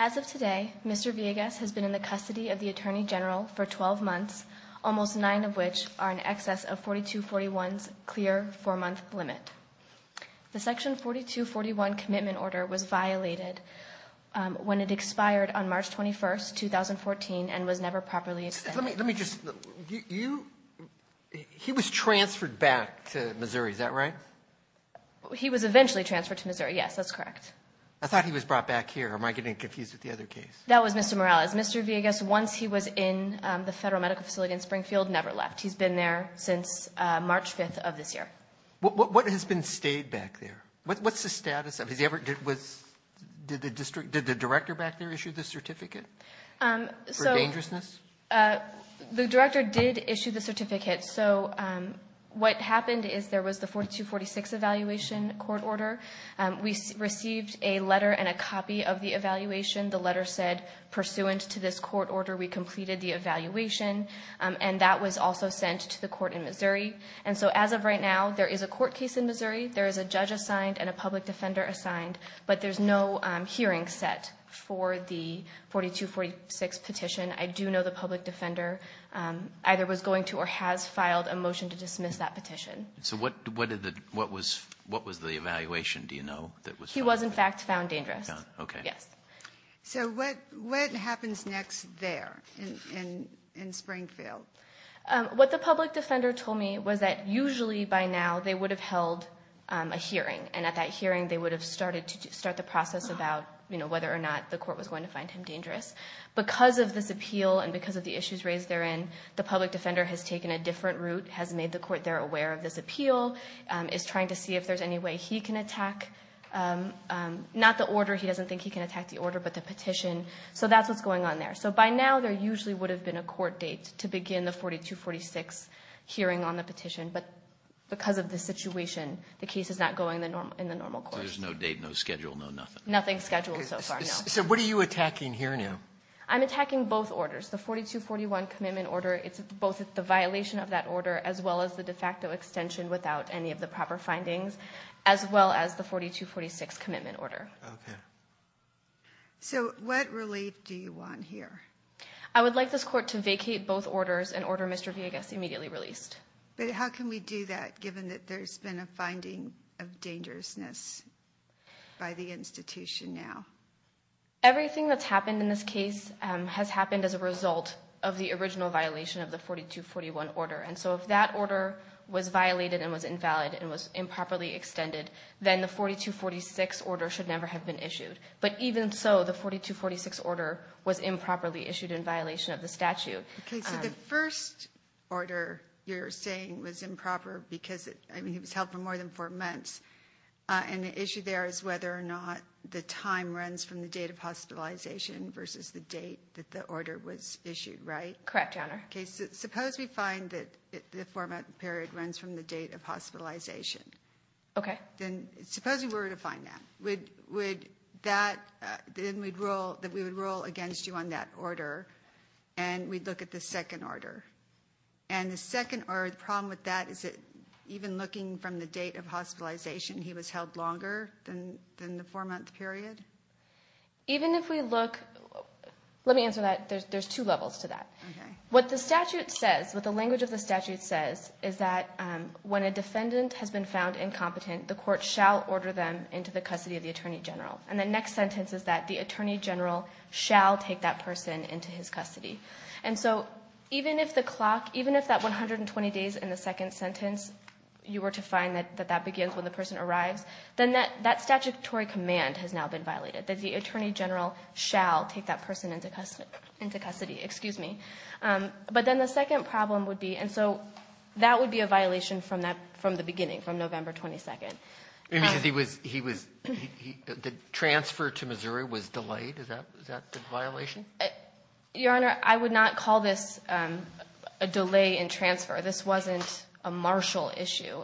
As of today, Mr. Villegas has been in the custody of the Attorney General for 12 months, almost 9 of which are in excess of 4241's clear 4-month limit. The Section 4241 Commitment Order was violated when it expired on March 21, 2014 and was never properly extended. He was transferred back to Missouri, is that right? He was eventually transferred to Missouri, yes, that's correct. I thought he was brought back here. Am I getting confused with the other case? That was Mr. Morales. Mr. Villegas, once he was in the federal medical facility in Springfield, never left. He's been there since March 5th of this year. What has been stayed back there? What's the status of it? Did the director back there issue the certificate for dangerousness? The director did issue the certificate. So what happened is there was the 4246 Evaluation Court Order. We received a letter and a copy of the evaluation. The letter said, pursuant to this court order, we completed the evaluation. And that was also sent to the court in Missouri. And so as of right now, there is a court case in Missouri. There is a judge assigned and a public defender assigned. But there's no hearing set for the 4246 petition. I do know the public defender either was going to or has filed a motion to dismiss that petition. So what was the evaluation, do you know? He was, in fact, found dangerous. So what happens next there in Springfield? What the public defender told me was that usually by now they would have held a hearing. And at that hearing, they would have started to start the process about, you know, whether or not the court was going to find him dangerous. Because of this appeal and because of the issues raised therein, the public defender has taken a different route, has made the court there aware of this appeal, is trying to see if there's any way he can attack, not the order, he doesn't think he can attack the order, but the petition. So that's what's going on there. So by now there usually would have been a court date to begin the 4246 hearing on the petition. But because of the situation, the case is not going in the normal court. So there's no date, no schedule, no nothing? Nothing scheduled so far, no. So what are you attacking here now? I'm attacking both orders, the 4241 commitment order. It's both the violation of that order as well as the de facto extension without any of the proper findings, as well as the 4246 commitment order. Okay. So what relief do you want here? I would like this court to vacate both orders and order Mr. Villegas immediately released. But how can we do that given that there's been a finding of dangerousness by the institution now? Everything that's happened in this case has happened as a result of the original violation of the 4241 order. And so if that order was violated and was invalid and was improperly extended, then the 4246 order should never have been issued. But even so, the 4246 order was improperly issued in violation of the statute. Okay. So the first order you're saying was improper because, I mean, it was held for more than four months. And the issue there is whether or not the time runs from the date of hospitalization versus the date that the order was issued, right? Correct, Your Honor. Okay. Suppose we find that the four-month period runs from the date of hospitalization. Okay. Then suppose we were to find that. Then we would rule against you on that order, and we'd look at the second order. And the second order, the problem with that is that even looking from the date of hospitalization, he was held longer than the four-month period? Even if we look – let me answer that. There's two levels to that. Okay. What the statute says, what the language of the statute says, is that when a defendant has been found incompetent, the court shall order them into the custody of the attorney general. And the next sentence is that the attorney general shall take that person into his custody. And so even if the clock – even if that 120 days in the second sentence, you were to find that that begins when the person arrives, then that statutory command has now been violated, that the attorney general shall take that person into custody. Excuse me. But then the second problem would be – and so that would be a violation from the beginning, from November 22nd. It means that he was – the transfer to Missouri was delayed? Is that the violation? Your Honor, I would not call this a delay in transfer. This wasn't a martial issue.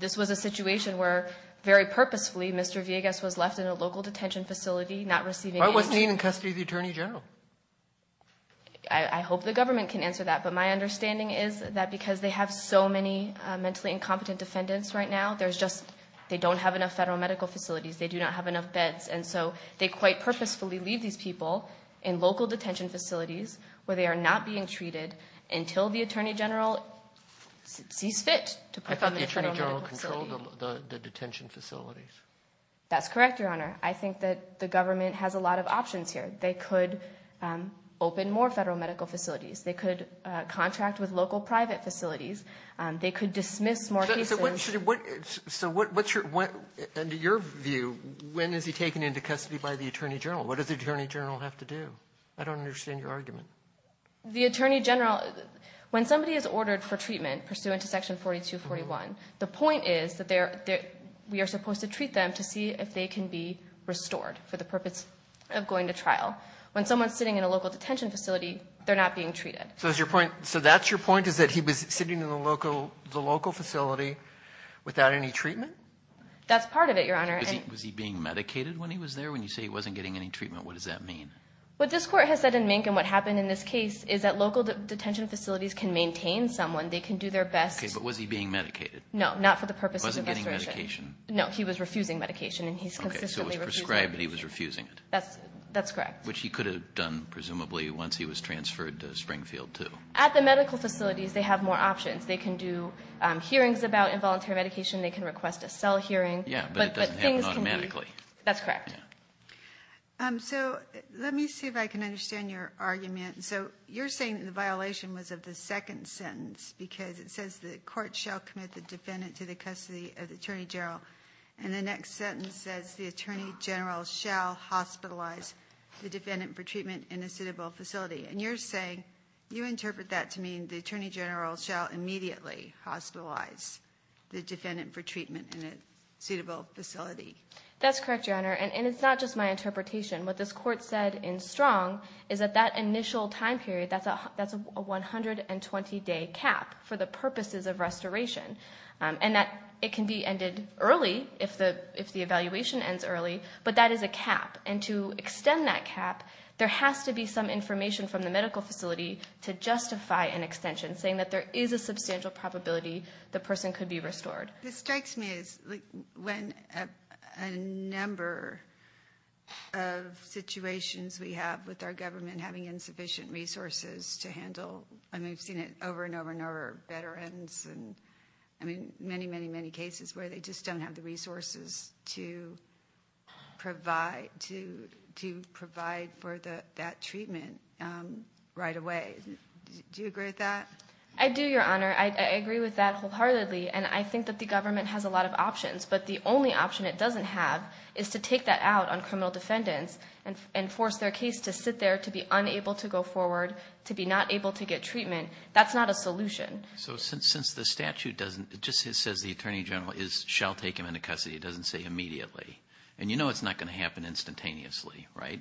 This was a situation where very purposefully Mr. Villegas was left in a local detention facility not receiving aid. Why wasn't he in custody of the attorney general? I hope the government can answer that. But my understanding is that because they have so many mentally incompetent defendants right now, there's just – they don't have enough federal medical facilities. They do not have enough beds. And so they quite purposefully leave these people in local detention facilities where they are not being treated until the attorney general sees fit to put them in federal medical facilities. If the attorney general controlled the detention facilities. That's correct, Your Honor. I think that the government has a lot of options here. They could open more federal medical facilities. They could contract with local private facilities. They could dismiss more cases. So what's your – and to your view, when is he taken into custody by the attorney general? What does the attorney general have to do? I don't understand your argument. The attorney general – when somebody is ordered for treatment pursuant to Section 4241, the point is that we are supposed to treat them to see if they can be restored for the purpose of going to trial. When someone is sitting in a local detention facility, they're not being treated. So that's your point is that he was sitting in the local facility without any treatment? That's part of it, Your Honor. Was he being medicated when he was there? When you say he wasn't getting any treatment, what does that mean? What this court has said in Mink and what happened in this case is that local detention facilities can maintain someone. They can do their best. Okay, but was he being medicated? No, not for the purpose of restoration. He wasn't getting medication? No, he was refusing medication, and he's consistently refusing it. Okay, so he was prescribed, but he was refusing it. That's correct. Which he could have done, presumably, once he was transferred to Springfield too. At the medical facilities, they have more options. They can do hearings about involuntary medication. They can request a cell hearing. Yeah, but it doesn't happen automatically. That's correct. So, let me see if I can understand your argument. So, you're saying the violation was of the second sentence because it says the court shall commit the defendant to the custody of the attorney general, and the next sentence says the attorney general shall hospitalize the defendant for treatment in a suitable facility. And you're saying you interpret that to mean the attorney general shall immediately hospitalize the defendant for treatment in a suitable facility. That's correct, Your Honor, and it's not just my interpretation. What this court said in Strong is that that initial time period, that's a 120-day cap for the purposes of restoration, and that it can be ended early if the evaluation ends early, but that is a cap. And to extend that cap, there has to be some information from the medical facility to justify an extension, saying that there is a substantial probability the person could be restored. What strikes me is when a number of situations we have with our government having insufficient resources to handle, and we've seen it over and over and over, veterans and many, many, many cases where they just don't have the resources to provide for that treatment right away. Do you agree with that? I do, Your Honor. I agree with that wholeheartedly, and I think that the government has a lot of options, but the only option it doesn't have is to take that out on criminal defendants and force their case to sit there to be unable to go forward, to be not able to get treatment. That's not a solution. So since the statute just says the attorney general shall take him into custody, it doesn't say immediately. And you know it's not going to happen instantaneously, right?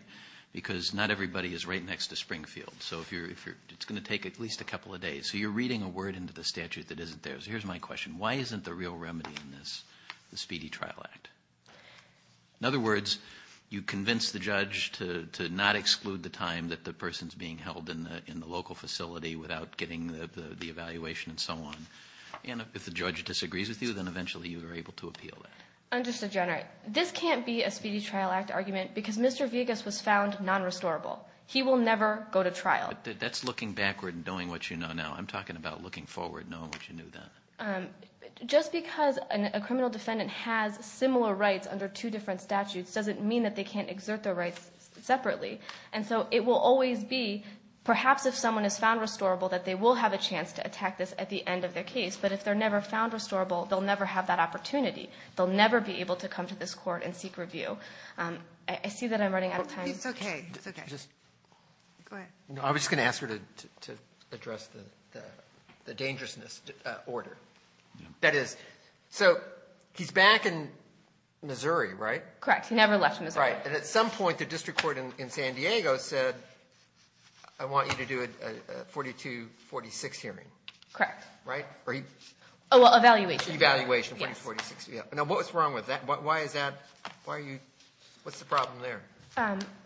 Because not everybody is right next to Springfield, so it's going to take at least a couple of days. Okay, so you're reading a word into the statute that isn't there. So here's my question. Why isn't the real remedy in this the Speedy Trial Act? In other words, you convince the judge to not exclude the time that the person is being held in the local facility without getting the evaluation and so on, and if the judge disagrees with you, then eventually you are able to appeal that. Understood, Your Honor. This can't be a Speedy Trial Act argument because Mr. Vegas was found non-restorable. He will never go to trial. That's looking backward and knowing what you know now. I'm talking about looking forward and knowing what you knew then. Just because a criminal defendant has similar rights under two different statutes doesn't mean that they can't exert their rights separately. And so it will always be, perhaps if someone is found restorable, that they will have a chance to attack this at the end of their case. But if they're never found restorable, they'll never have that opportunity. They'll never be able to come to this court and seek review. I see that I'm running out of time. It's okay. Go ahead. No, I was just going to ask her to address the dangerousness order. That is, so he's back in Missouri, right? Correct. He never left Missouri. Right. And at some point, the district court in San Diego said, I want you to do a 42-46 hearing. Correct. Right? Oh, well, evaluation. Evaluation, 42-46. Yes. Now, what was wrong with that? Why is that? Why are you? What's the problem there?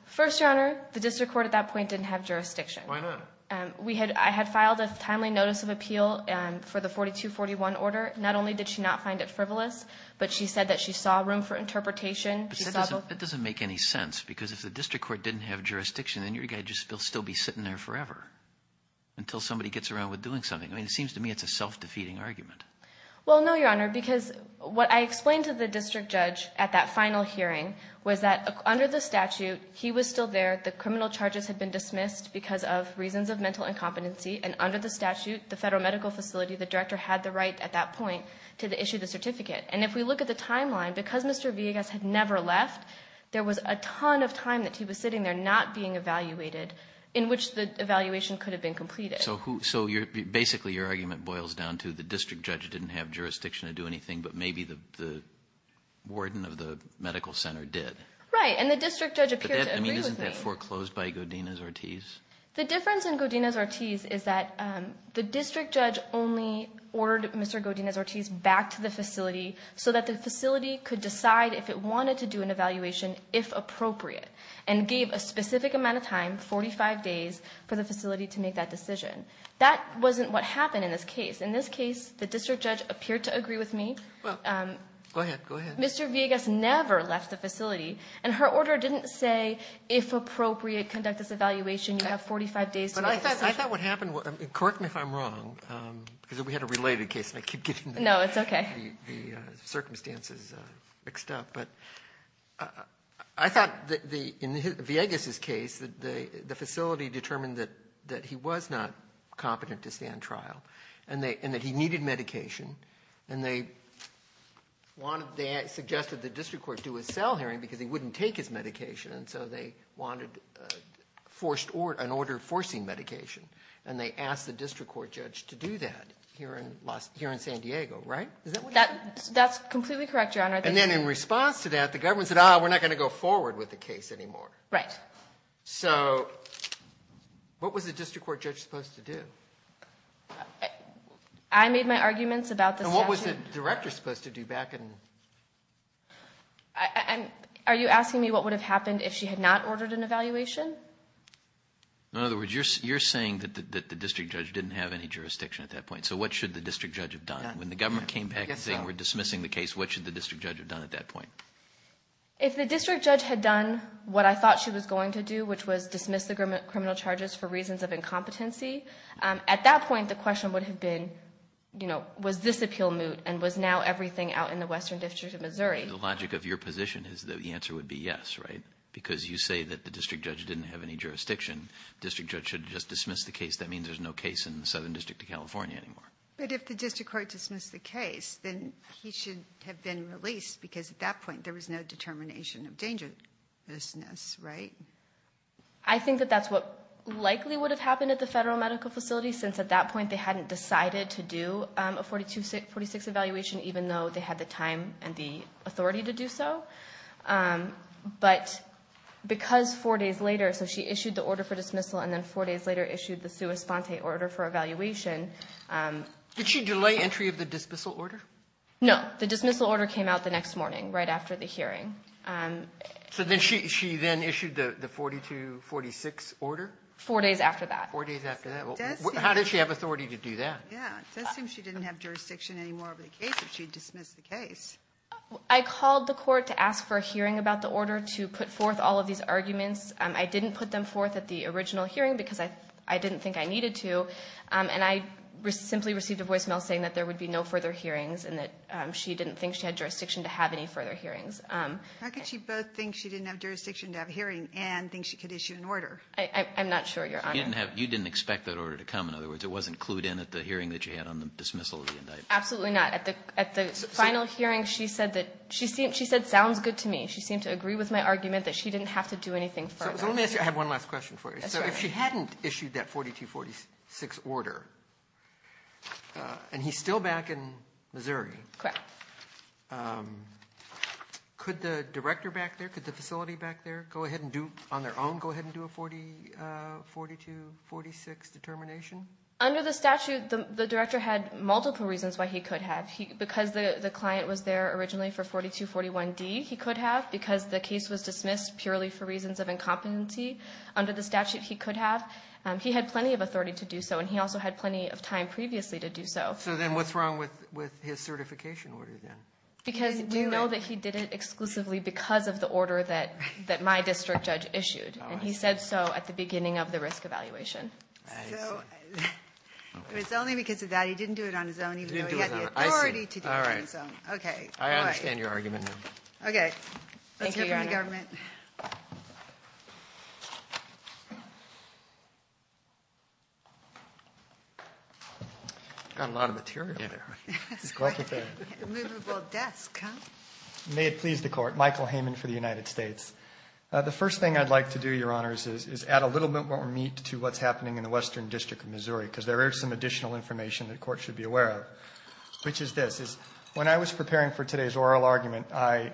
First, Your Honor, the district court at that point didn't have jurisdiction. Why not? I had filed a timely notice of appeal for the 42-41 order. Not only did she not find it frivolous, but she said that she saw room for interpretation. That doesn't make any sense because if the district court didn't have jurisdiction, then your guy would still be sitting there forever until somebody gets around with doing something. I mean, it seems to me it's a self-defeating argument. Well, no, Your Honor, because what I explained to the district judge at that final hearing was that under the statute, he was still there. The criminal charges had been dismissed because of reasons of mental incompetency. And under the statute, the federal medical facility, the director had the right at that point to issue the certificate. And if we look at the timeline, because Mr. Villegas had never left, there was a ton of time that he was sitting there not being evaluated in which the evaluation could have been completed. So basically your argument boils down to the district judge didn't have jurisdiction to do anything, but maybe the warden of the medical center did. Right, and the district judge appeared to agree with me. But isn't that foreclosed by Godinez-Ortiz? The difference in Godinez-Ortiz is that the district judge only ordered Mr. Godinez-Ortiz back to the facility so that the facility could decide if it wanted to do an evaluation, if appropriate, and gave a specific amount of time, 45 days, for the facility to make that decision. That wasn't what happened in this case. In this case, the district judge appeared to agree with me. Go ahead, go ahead. And her order didn't say, if appropriate, conduct this evaluation, you have 45 days to make the decision. But I thought what happened was, correct me if I'm wrong, because we had a related case, and I keep getting the circumstances mixed up. But I thought that in Villegas' case, the facility determined that he was not competent to stand trial and that he needed medication. And they wanted, they suggested the district court do a cell hearing because he wouldn't take his medication. And so they wanted an order forcing medication. And they asked the district court judge to do that here in San Diego, right? Is that what happened? That's completely correct, Your Honor. And then in response to that, the government said, ah, we're not going to go forward with the case anymore. Right. So what was the district court judge supposed to do? I made my arguments about the statute. And what was the director supposed to do back in? Are you asking me what would have happened if she had not ordered an evaluation? In other words, you're saying that the district judge didn't have any jurisdiction at that point. So what should the district judge have done? When the government came back and said, we're dismissing the case, what should the district judge have done at that point? If the district judge had done what I thought she was going to do, which was dismiss the criminal charges for reasons of incompetency, at that point the question would have been, you know, was this appeal moot and was now everything out in the Western District of Missouri? The logic of your position is that the answer would be yes, right? Because you say that the district judge didn't have any jurisdiction. The district judge should have just dismissed the case. That means there's no case in the Southern District of California anymore. But if the district court dismissed the case, then he should have been released because at that point there was no determination of dangerousness, right? I think that that's what likely would have happened at the federal medical facility, since at that point they hadn't decided to do a 42-46 evaluation, even though they had the time and the authority to do so. But because four days later, so she issued the order for dismissal and then four days later issued the sua sponte order for evaluation. Did she delay entry of the dismissal order? No, the dismissal order came out the next morning, right after the hearing. So then she then issued the 42-46 order? Four days after that. Four days after that. How did she have authority to do that? Yeah, it does seem she didn't have jurisdiction anymore over the case if she dismissed the case. I called the court to ask for a hearing about the order to put forth all of these arguments. I didn't put them forth at the original hearing because I didn't think I needed to. And I simply received a voicemail saying that there would be no further hearings and that she didn't think she had jurisdiction to have any further hearings. How could she both think she didn't have jurisdiction to have a hearing and think she could issue an order? I'm not sure, Your Honor. You didn't expect that order to come. In other words, it wasn't clued in at the hearing that you had on the dismissal of the indictment. Absolutely not. At the final hearing, she said, sounds good to me. She seemed to agree with my argument that she didn't have to do anything further. Let me ask you, I have one last question for you. So if she hadn't issued that 4246 order, and he's still back in Missouri. Correct. Could the director back there, could the facility back there go ahead and do, on their own, go ahead and do a 4246 determination? Under the statute, the director had multiple reasons why he could have. Because the client was there originally for 4241D, he could have. Because the case was dismissed purely for reasons of incompetency. Under the statute, he could have. He had plenty of authority to do so, and he also had plenty of time previously to do so. So then what's wrong with his certification order then? Because we know that he did it exclusively because of the order that my district judge issued. And he said so at the beginning of the risk evaluation. So, it was only because of that. He didn't do it on his own, even though he had the authority to do it on his own. Okay. Okay. Thank you, Your Honor. Let's hear from the government. Thank you. Got a lot of material there. It's quite a movable desk, huh? May it please the Court. Michael Heyman for the United States. The first thing I'd like to do, Your Honors, is add a little bit more meat to what's happening in the Western District of Missouri, because there is some additional information that the Court should be aware of, which is this. When I was preparing for today's oral argument, I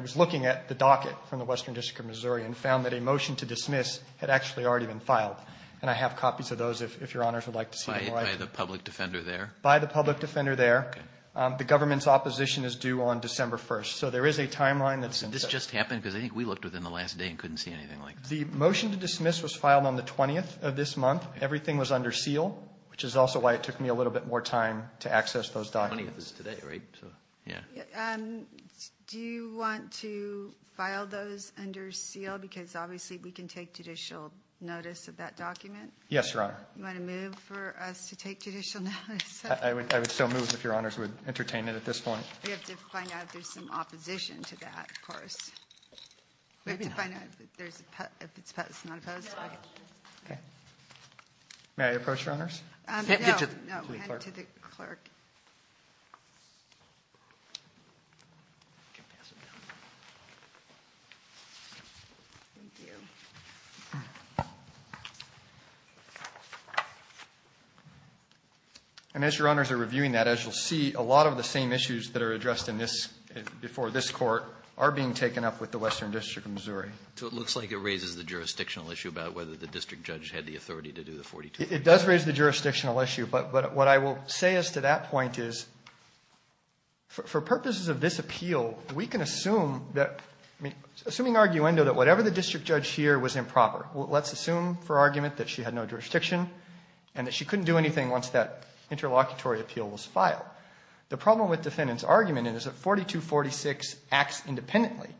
was looking at the docket from the Western District of Missouri and found that a motion to dismiss had actually already been filed. And I have copies of those, if Your Honors would like to see them. By the public defender there? By the public defender there. Okay. The government's opposition is due on December 1st. So there is a timeline that's in place. Did this just happen? Because I think we looked within the last day and couldn't see anything like this. The motion to dismiss was filed on the 20th of this month. Everything was under seal, which is also why it took me a little bit more time to access those documents. The 20th is today, right? Yeah. Do you want to file those under seal? Because obviously we can take judicial notice of that document. Yes, Your Honor. Do you want to move for us to take judicial notice? I would still move if Your Honors would entertain it at this point. We have to find out if there's some opposition to that, of course. We have to find out if it's opposed or not opposed. Okay. May I approach, Your Honors? No. No, head to the clerk. Thank you. And as Your Honors are reviewing that, as you'll see, a lot of the same issues that are addressed before this court are being taken up with the Western District of Missouri. So it looks like it raises the jurisdictional issue about whether the district judge had the authority to do the 42. It does raise the jurisdictional issue. But what I will say as to that point is for purposes of this appeal, we can assume that, assuming arguendo, that whatever the district judge here was improper, let's assume for argument that she had no jurisdiction and that she couldn't do anything once that interlocutory appeal was filed. The problem with defendant's argument is that 4246 acts independently.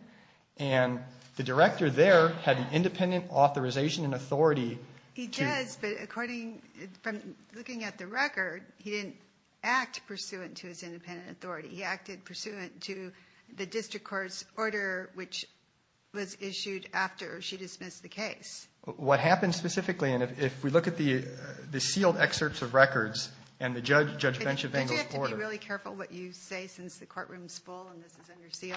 And the director there had an independent authorization and authority to Yes, but according, from looking at the record, he didn't act pursuant to his independent authority. He acted pursuant to the district court's order, which was issued after she dismissed the case. What happened specifically, and if we look at the sealed excerpts of records and the judge bench of angles order. Did you have to be really careful what you say since the courtroom is full and this is under seal?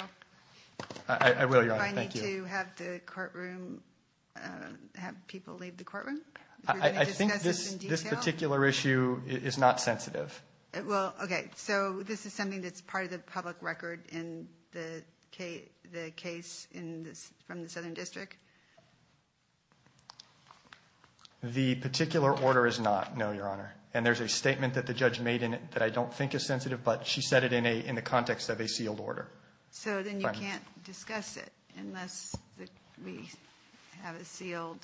I will, Your Honor. Thank you. Did you have to have the courtroom, have people leave the courtroom? I think this particular issue is not sensitive. Well, okay. So this is something that's part of the public record in the case from the southern district? The particular order is not, no, Your Honor. And there's a statement that the judge made in it that I don't think is sensitive, but she said it in the context of a sealed order. So then you can't discuss it unless we have a sealed.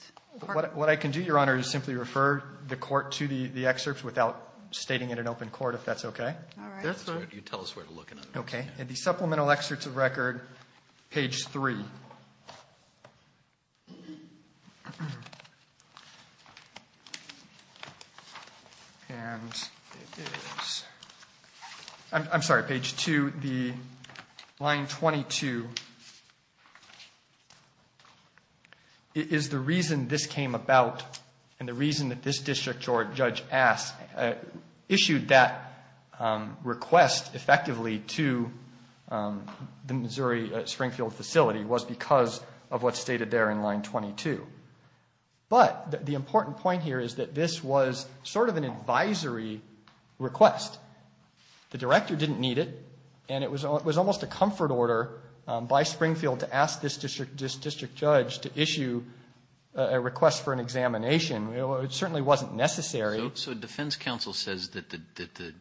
What I can do, Your Honor, is simply refer the court to the excerpts without stating it in open court, if that's okay. All right. You tell us where to look. Okay. In the supplemental excerpts of record, page 3. And it is, I'm sorry, page 2. The line 22 is the reason this came about and the reason that this district judge issued that request effectively to the Missouri Springfield facility was because of what's stated there in line 22. But the important point here is that this was sort of an advisory request. The director didn't need it, and it was almost a comfort order by Springfield to ask this district judge to issue a request for an examination. It certainly wasn't necessary. So defense counsel says that the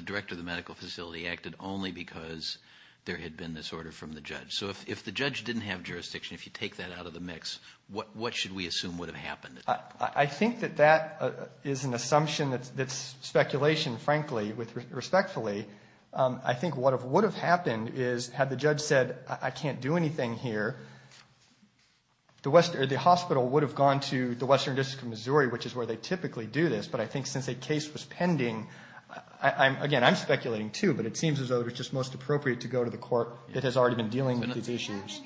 director of the medical facility acted only because there had been this order from the judge. So if the judge didn't have jurisdiction, if you take that out of the mix, what should we assume would have happened? I think that that is an assumption that's speculation, frankly, respectfully. I think what would have happened is had the judge said, I can't do anything here, the hospital would have gone to the western district of Missouri, which is where they typically do this. But I think since a case was pending, again, I'm speculating too, but it seems as though it was just most appropriate to go to the court that has already been dealing with these issues.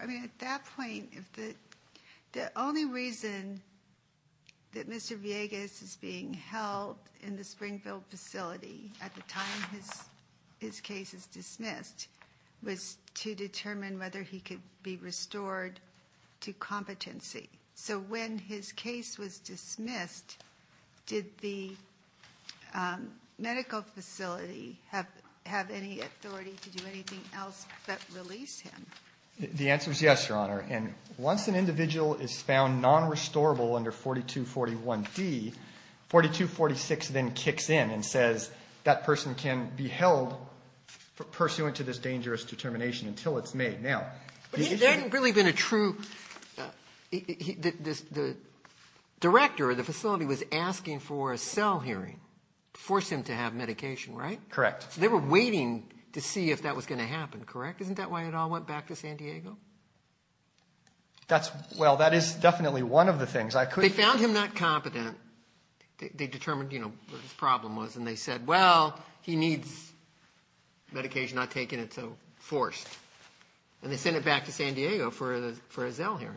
At that point, the only reason that Mr. Villegas is being held in the Springfield facility at the time his case is dismissed was to determine whether he could be restored to competency. So when his case was dismissed, did the medical facility have any authority to do anything else but release him? The answer is yes, Your Honor. And once an individual is found nonrestorable under 4241D, 4246 then kicks in and says that person can be held pursuant to this dangerous determination until it's made. But there hadn't really been a true – the director of the facility was asking for a cell hearing to force him to have medication, right? Correct. So they were waiting to see if that was going to happen, correct? Isn't that why it all went back to San Diego? That's – well, that is definitely one of the things. They found him not competent. They determined, you know, what his problem was, and they said, well, he needs medication. I've taken it, so forced. And they sent it back to San Diego for a cell hearing.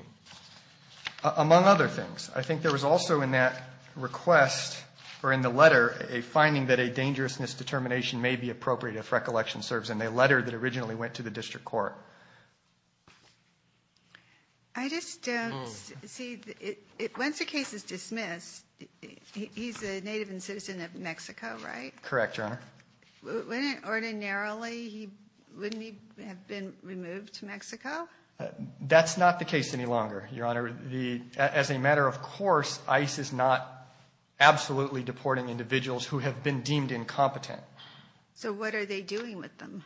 Among other things, I think there was also in that request or in the letter a finding that a dangerousness determination may be appropriate if recollection serves in a letter that originally went to the district court. I just don't see – once the case is dismissed, he's a native and citizen of Mexico, right? Correct, Your Honor. Wouldn't ordinarily he – wouldn't he have been removed to Mexico? That's not the case any longer, Your Honor. As a matter of course, ICE is not absolutely deporting individuals who have been deemed incompetent. So what are they doing with them?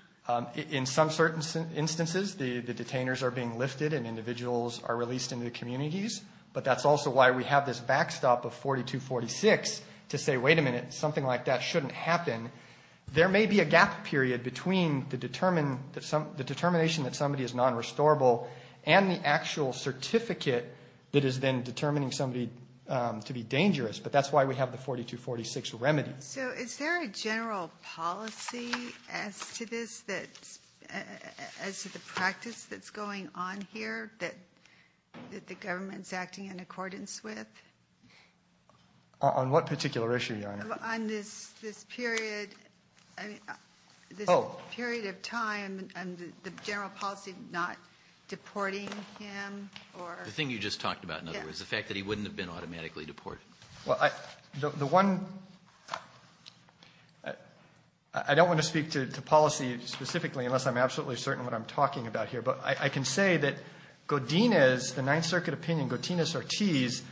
In some certain instances, the detainers are being lifted and individuals are released into the communities. But that's also why we have this backstop of 4246 to say, wait a minute, something like that shouldn't happen. There may be a gap period between the determination that somebody is non-restorable and the actual certificate that is then determining somebody to be dangerous. But that's why we have the 4246 remedy. So is there a general policy as to this that's – as to the practice that's going on here that the government's acting in accordance with? On what particular issue, Your Honor? On this period. Oh. This period of time and the general policy not deporting him or – The thing you just talked about, in other words, the fact that he wouldn't have been automatically deported. Well, the one – I don't want to speak to policy specifically unless I'm absolutely certain what I'm talking about here. But I can say that Godinez, the Ninth Circuit opinion, Godinez-Ortiz,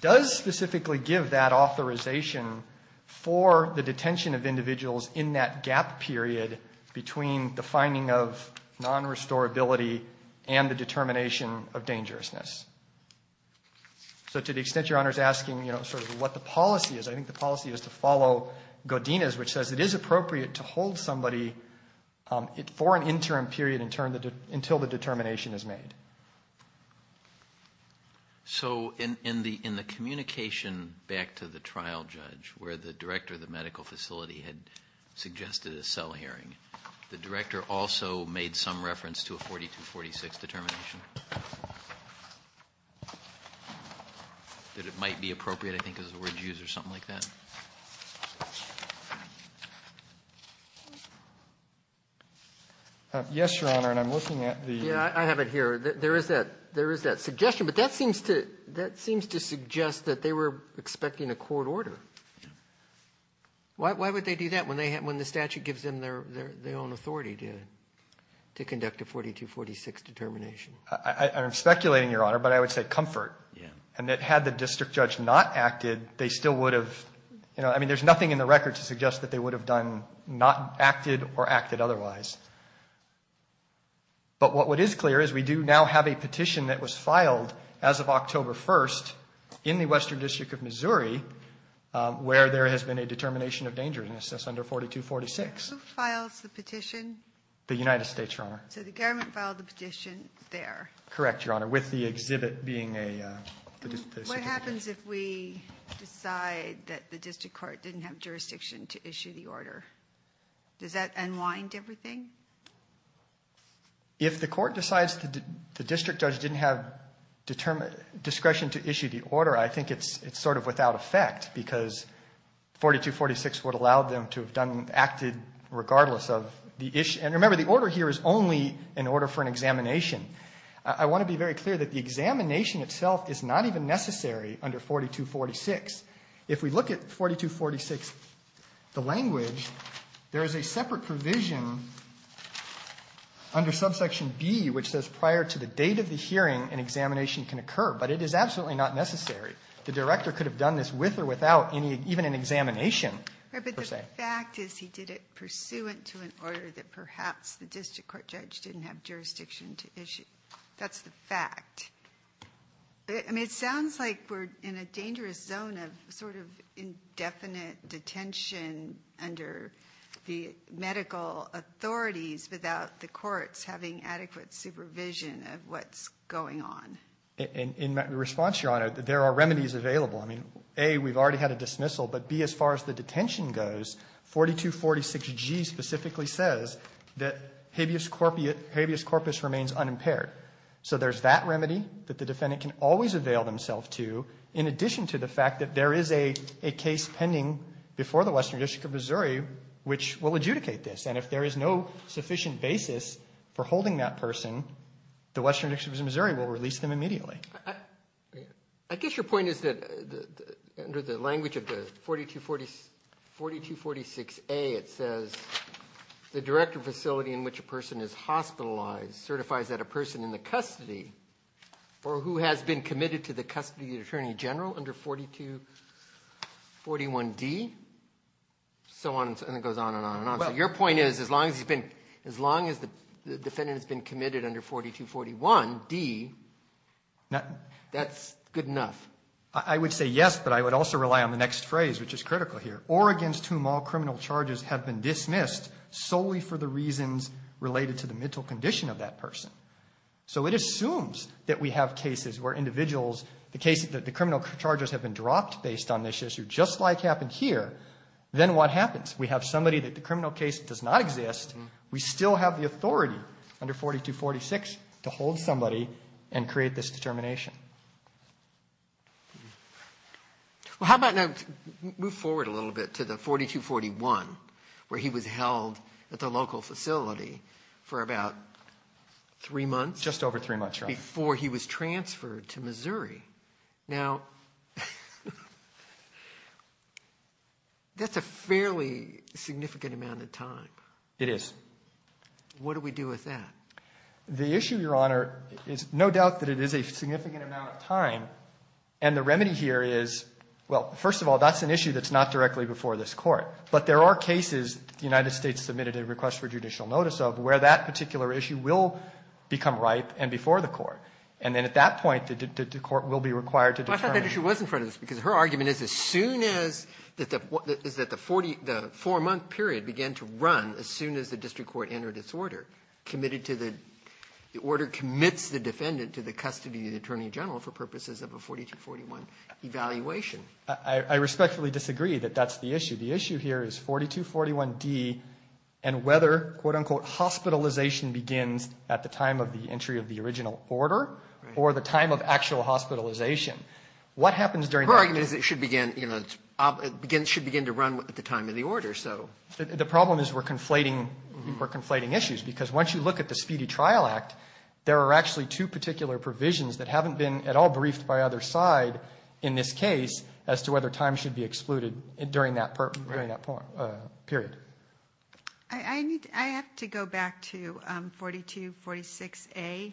does specifically give that authorization for the detention of individuals in that gap period between the finding of non-restorability and the determination of dangerousness. So to the extent Your Honor is asking, you know, sort of what the policy is, I think the policy is to follow Godinez, which says it is appropriate to hold somebody for an interim period until the determination is made. So in the communication back to the trial judge where the director of the medical facility had suggested a cell hearing, the director also made some reference to a 4246 determination, that it might be appropriate I think is the word used or something like that? Yes, Your Honor, and I'm looking at the – Yeah, I have it here. There is that suggestion, but that seems to suggest that they were expecting a court order. Yeah. Why would they do that when the statute gives them their own authority to conduct a 4246 determination? I'm speculating, Your Honor, but I would say comfort. Yeah. And that had the district judge not acted, they still would have – you know, I mean, there's nothing in the record to suggest that they would have done – not acted or acted otherwise. But what is clear is we do now have a petition that was filed as of October 1st in the Western District of Missouri where there has been a determination of dangerousness under 4246. Who files the petition? The United States, Your Honor. So the government filed the petition there? Correct, Your Honor, with the exhibit being a – What happens if we decide that the district court didn't have jurisdiction to issue the order? Does that unwind everything? If the court decides the district judge didn't have discretion to issue the order, I think it's sort of without effect because 4246 would have allowed them to have done – acted regardless of the issue. And remember, the order here is only an order for an examination. I want to be very clear that the examination itself is not even necessary under 4246. If we look at 4246, the language, there is a separate provision under subsection B which says prior to the date of the hearing, an examination can occur. But it is absolutely not necessary. The director could have done this with or without any – even an examination, per se. But the fact is he did it pursuant to an order that perhaps the district court judge didn't have jurisdiction to issue. That's the fact. It sounds like we're in a dangerous zone of sort of indefinite detention under the medical authorities without the courts having adequate supervision of what's going on. In response, Your Honor, there are remedies available. I mean, A, we've already had a dismissal. But B, as far as the detention goes, 4246G specifically says that habeas corpus remains unimpaired. So there's that remedy that the defendant can always avail themselves to, in addition to the fact that there is a case pending before the Western District of Missouri which will adjudicate this. And if there is no sufficient basis for holding that person, the Western District of Missouri will release them immediately. I guess your point is that under the language of the 4246A, it says the director facility in which a person is hospitalized certifies that a person in the custody or who has been committed to the custody of the attorney general under 4241D, and it goes on and on and on. So your point is as long as the defendant has been committed under 4241D, that's good enough. I would say yes, but I would also rely on the next phrase, which is critical here. Or against whom all criminal charges have been dismissed solely for the reasons related to the mental condition of that person. So it assumes that we have cases where individuals, the cases that the criminal charges have been dropped based on this issue, just like happened here, then what happens? We have somebody that the criminal case does not exist. We still have the authority under 4246 to hold somebody and create this determination. Well, how about now move forward a little bit to the 4241, where he was held at the local facility for about three months. Just over three months, right. Before he was transferred to Missouri. Now, that's a fairly significant amount of time. It is. What do we do with that? The issue, Your Honor, is no doubt that it is a significant amount of time. And the remedy here is, well, first of all, that's an issue that's not directly before this Court. But there are cases the United States submitted a request for judicial notice of where that particular issue will become ripe and before the Court. And then at that point, the Court will be required to determine. Well, I thought that issue was in front of us, because her argument is as soon as that the four-month period began to run as soon as the district court entered its order, committed to the order commits the defendant to the custody of the Attorney General for purposes of a 4241 evaluation. I respectfully disagree that that's the issue. The issue here is 4241D and whether, quote, unquote, hospitalization begins at the time of the entry of the original order or the time of actual hospitalization. Her argument is it should begin to run at the time of the order. The problem is we're conflating issues, because once you look at the Speedy Trial Act, there are actually two particular provisions that haven't been at all briefed by either side in this case as to whether time should be excluded during that period. I have to go back to 4246A,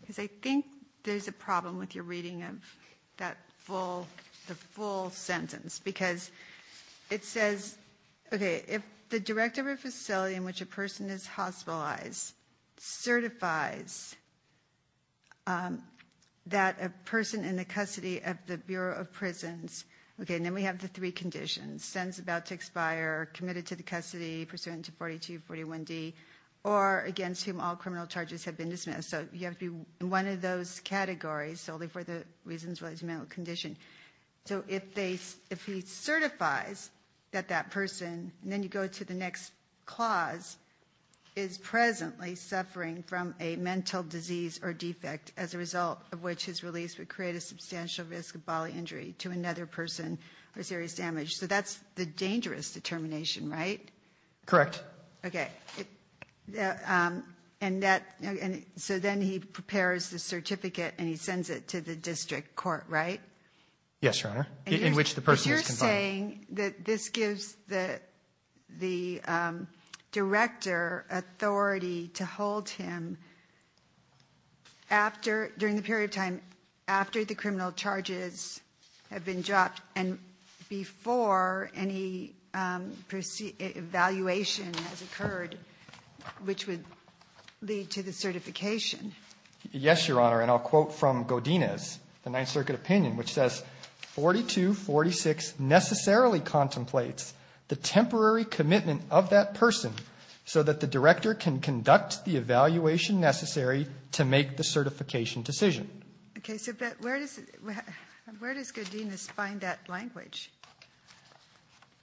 because I think there's a problem with your reading of that full, the full sentence, because it says, okay, if the director of a facility in which a person is hospitalized certifies that a person in the custody of the Bureau of Prisons, okay, and then we have the three conditions, sentence about to expire, committed to the custody pursuant to 4241D, or against whom all criminal charges have been dismissed. So you have to be in one of those categories solely for the reasons related to mental condition. So if he certifies that that person, and then you go to the next clause, is presently suffering from a mental disease or defect as a result of which his release would create a substantial risk of bodily injury to another person or serious damage. So that's the dangerous determination, right? Correct. Okay. And that, so then he prepares the certificate and he sends it to the district court, right? Yes, Your Honor. In which the person is confined. But you're saying that this gives the director authority to hold him after, during the period of time after the criminal charges have been dropped and before any evaluation has occurred, which would lead to the certification? Yes, Your Honor. And I'll quote from Godinez, the Ninth Circuit opinion, which says, 4246 necessarily contemplates the temporary commitment of that person so that the director can conduct the evaluation necessary to make the certification decision. Okay. So where does Godinez find that language?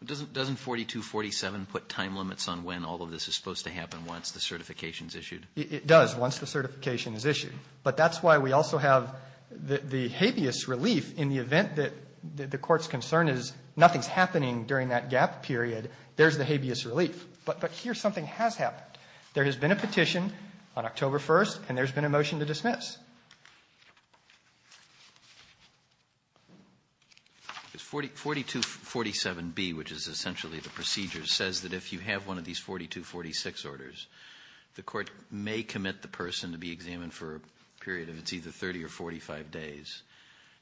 Doesn't 4247 put time limits on when all of this is supposed to happen once the certification is issued? It does once the certification is issued. But that's why we also have the habeas relief in the event that the court's concern is nothing's happening during that gap period, there's the habeas relief. But here something has happened. There has been a petition on October 1st and there's been a motion to dismiss. 4247B, which is essentially the procedure, says that if you have one of these 4246 orders, the court may commit the person to be examined for a period of, it's either 30 or 45 days.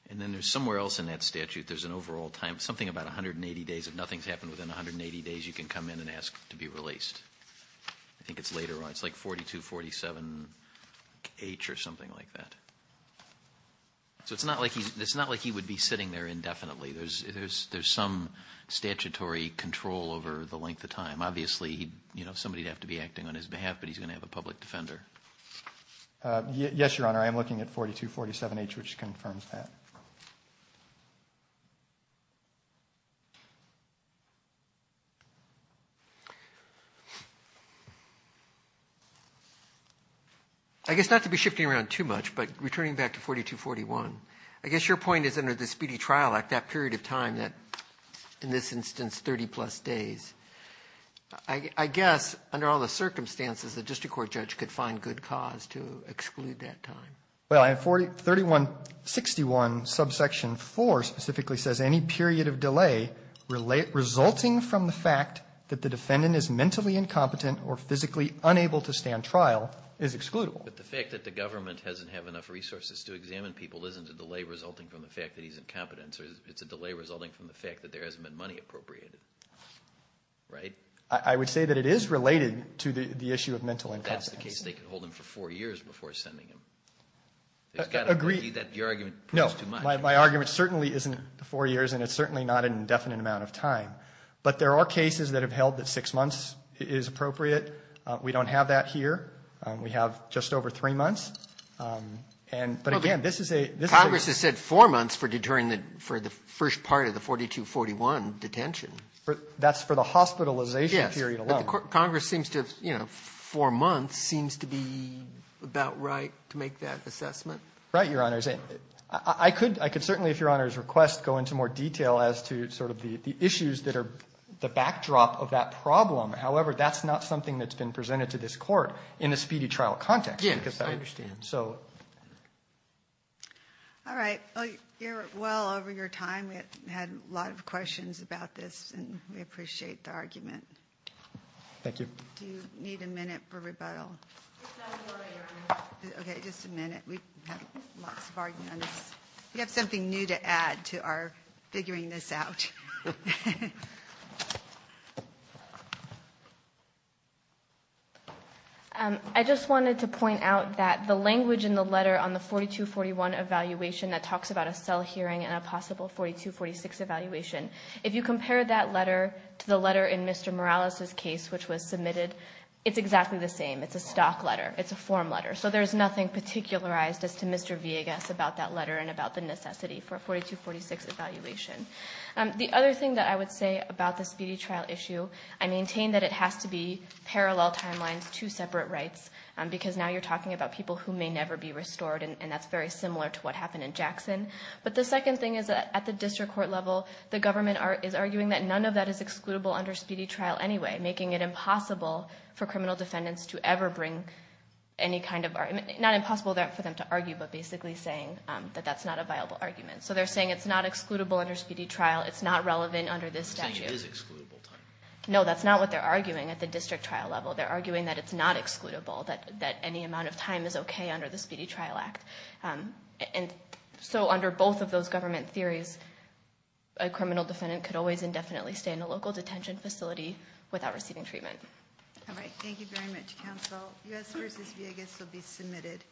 And then there's somewhere else in that statute there's an overall time, something about 180 days. If nothing's happened within 180 days, you can come in and ask to be released. I think it's later on. It's like 4247H or something like that. So it's not like he would be sitting there indefinitely. There's some statutory control over the length of time. Obviously, somebody would have to be acting on his behalf, but he's going to have a public defender. Yes, Your Honor. I am looking at 4247H, which confirms that. I guess not to be shifting around too much, but returning back to 4241, I guess your point is under the Speedy Trial Act, that period of time that in this instance 30-plus days. I guess under all the circumstances, the district court judge could find good cause to exclude that time. Well, I have 4361 subsection 4 specifically says any period of delay resulting from the fact that the defendant is mentally incompetent or physically unable to stand trial is excludable. But the fact that the government doesn't have enough resources to examine people isn't a delay resulting from the fact that he's incompetent. It's a delay resulting from the fact that there hasn't been money appropriated. Right? I would say that it is related to the issue of mental incompetence. That's the case. They could hold him for four years before sending him. Agreed. Your argument proves too much. No. My argument certainly isn't four years, and it's certainly not an indefinite amount of time. But there are cases that have held that six months is appropriate. We don't have that here. We have just over three months. But, again, this is a ‑‑ Congress has said four months for the first part of the 4241 detention. That's for the hospitalization period alone. Yes. Congress seems to have, you know, four months seems to be about right to make that assessment. Right, Your Honors. I could certainly, if Your Honors requests, go into more detail as to sort of the issues that are the backdrop of that problem. However, that's not something that's been presented to this Court in a speedy trial context. Yes, I understand. All right. You're well over your time. We had a lot of questions about this, and we appreciate the argument. Thank you. Do you need a minute for rebuttal? Just a minute. We have something new to add to our figuring this out. I just wanted to point out that the language in the letter on the 4241 evaluation that talks about a cell hearing and a possible 4246 evaluation, if you compare that letter to the letter in Mr. Morales' case, which was submitted, it's exactly the same. It's a stock letter. It's a form letter. So there's nothing particularized as to Mr. Villegas about that letter and about the necessity for a 4246 evaluation. The other thing that I would say about the speedy trial issue, I maintain that it has to be parallel timelines, two separate rights, because now you're talking about people who may never be restored, and that's very similar to what happened in Jackson. But the second thing is that at the district court level, the government is arguing that none of that is excludable under speedy trial anyway, making it not impossible for them to argue, but basically saying that that's not a viable argument. So they're saying it's not excludable under speedy trial. It's not relevant under this statute. They're saying it is excludable. No, that's not what they're arguing at the district trial level. They're arguing that it's not excludable, that any amount of time is okay under the Speedy Trial Act. And so under both of those government theories, a criminal defendant could always indefinitely stay in a local detention facility without receiving treatment. All right. Thank you very much, counsel. U.S. v. Vegas will be submitted.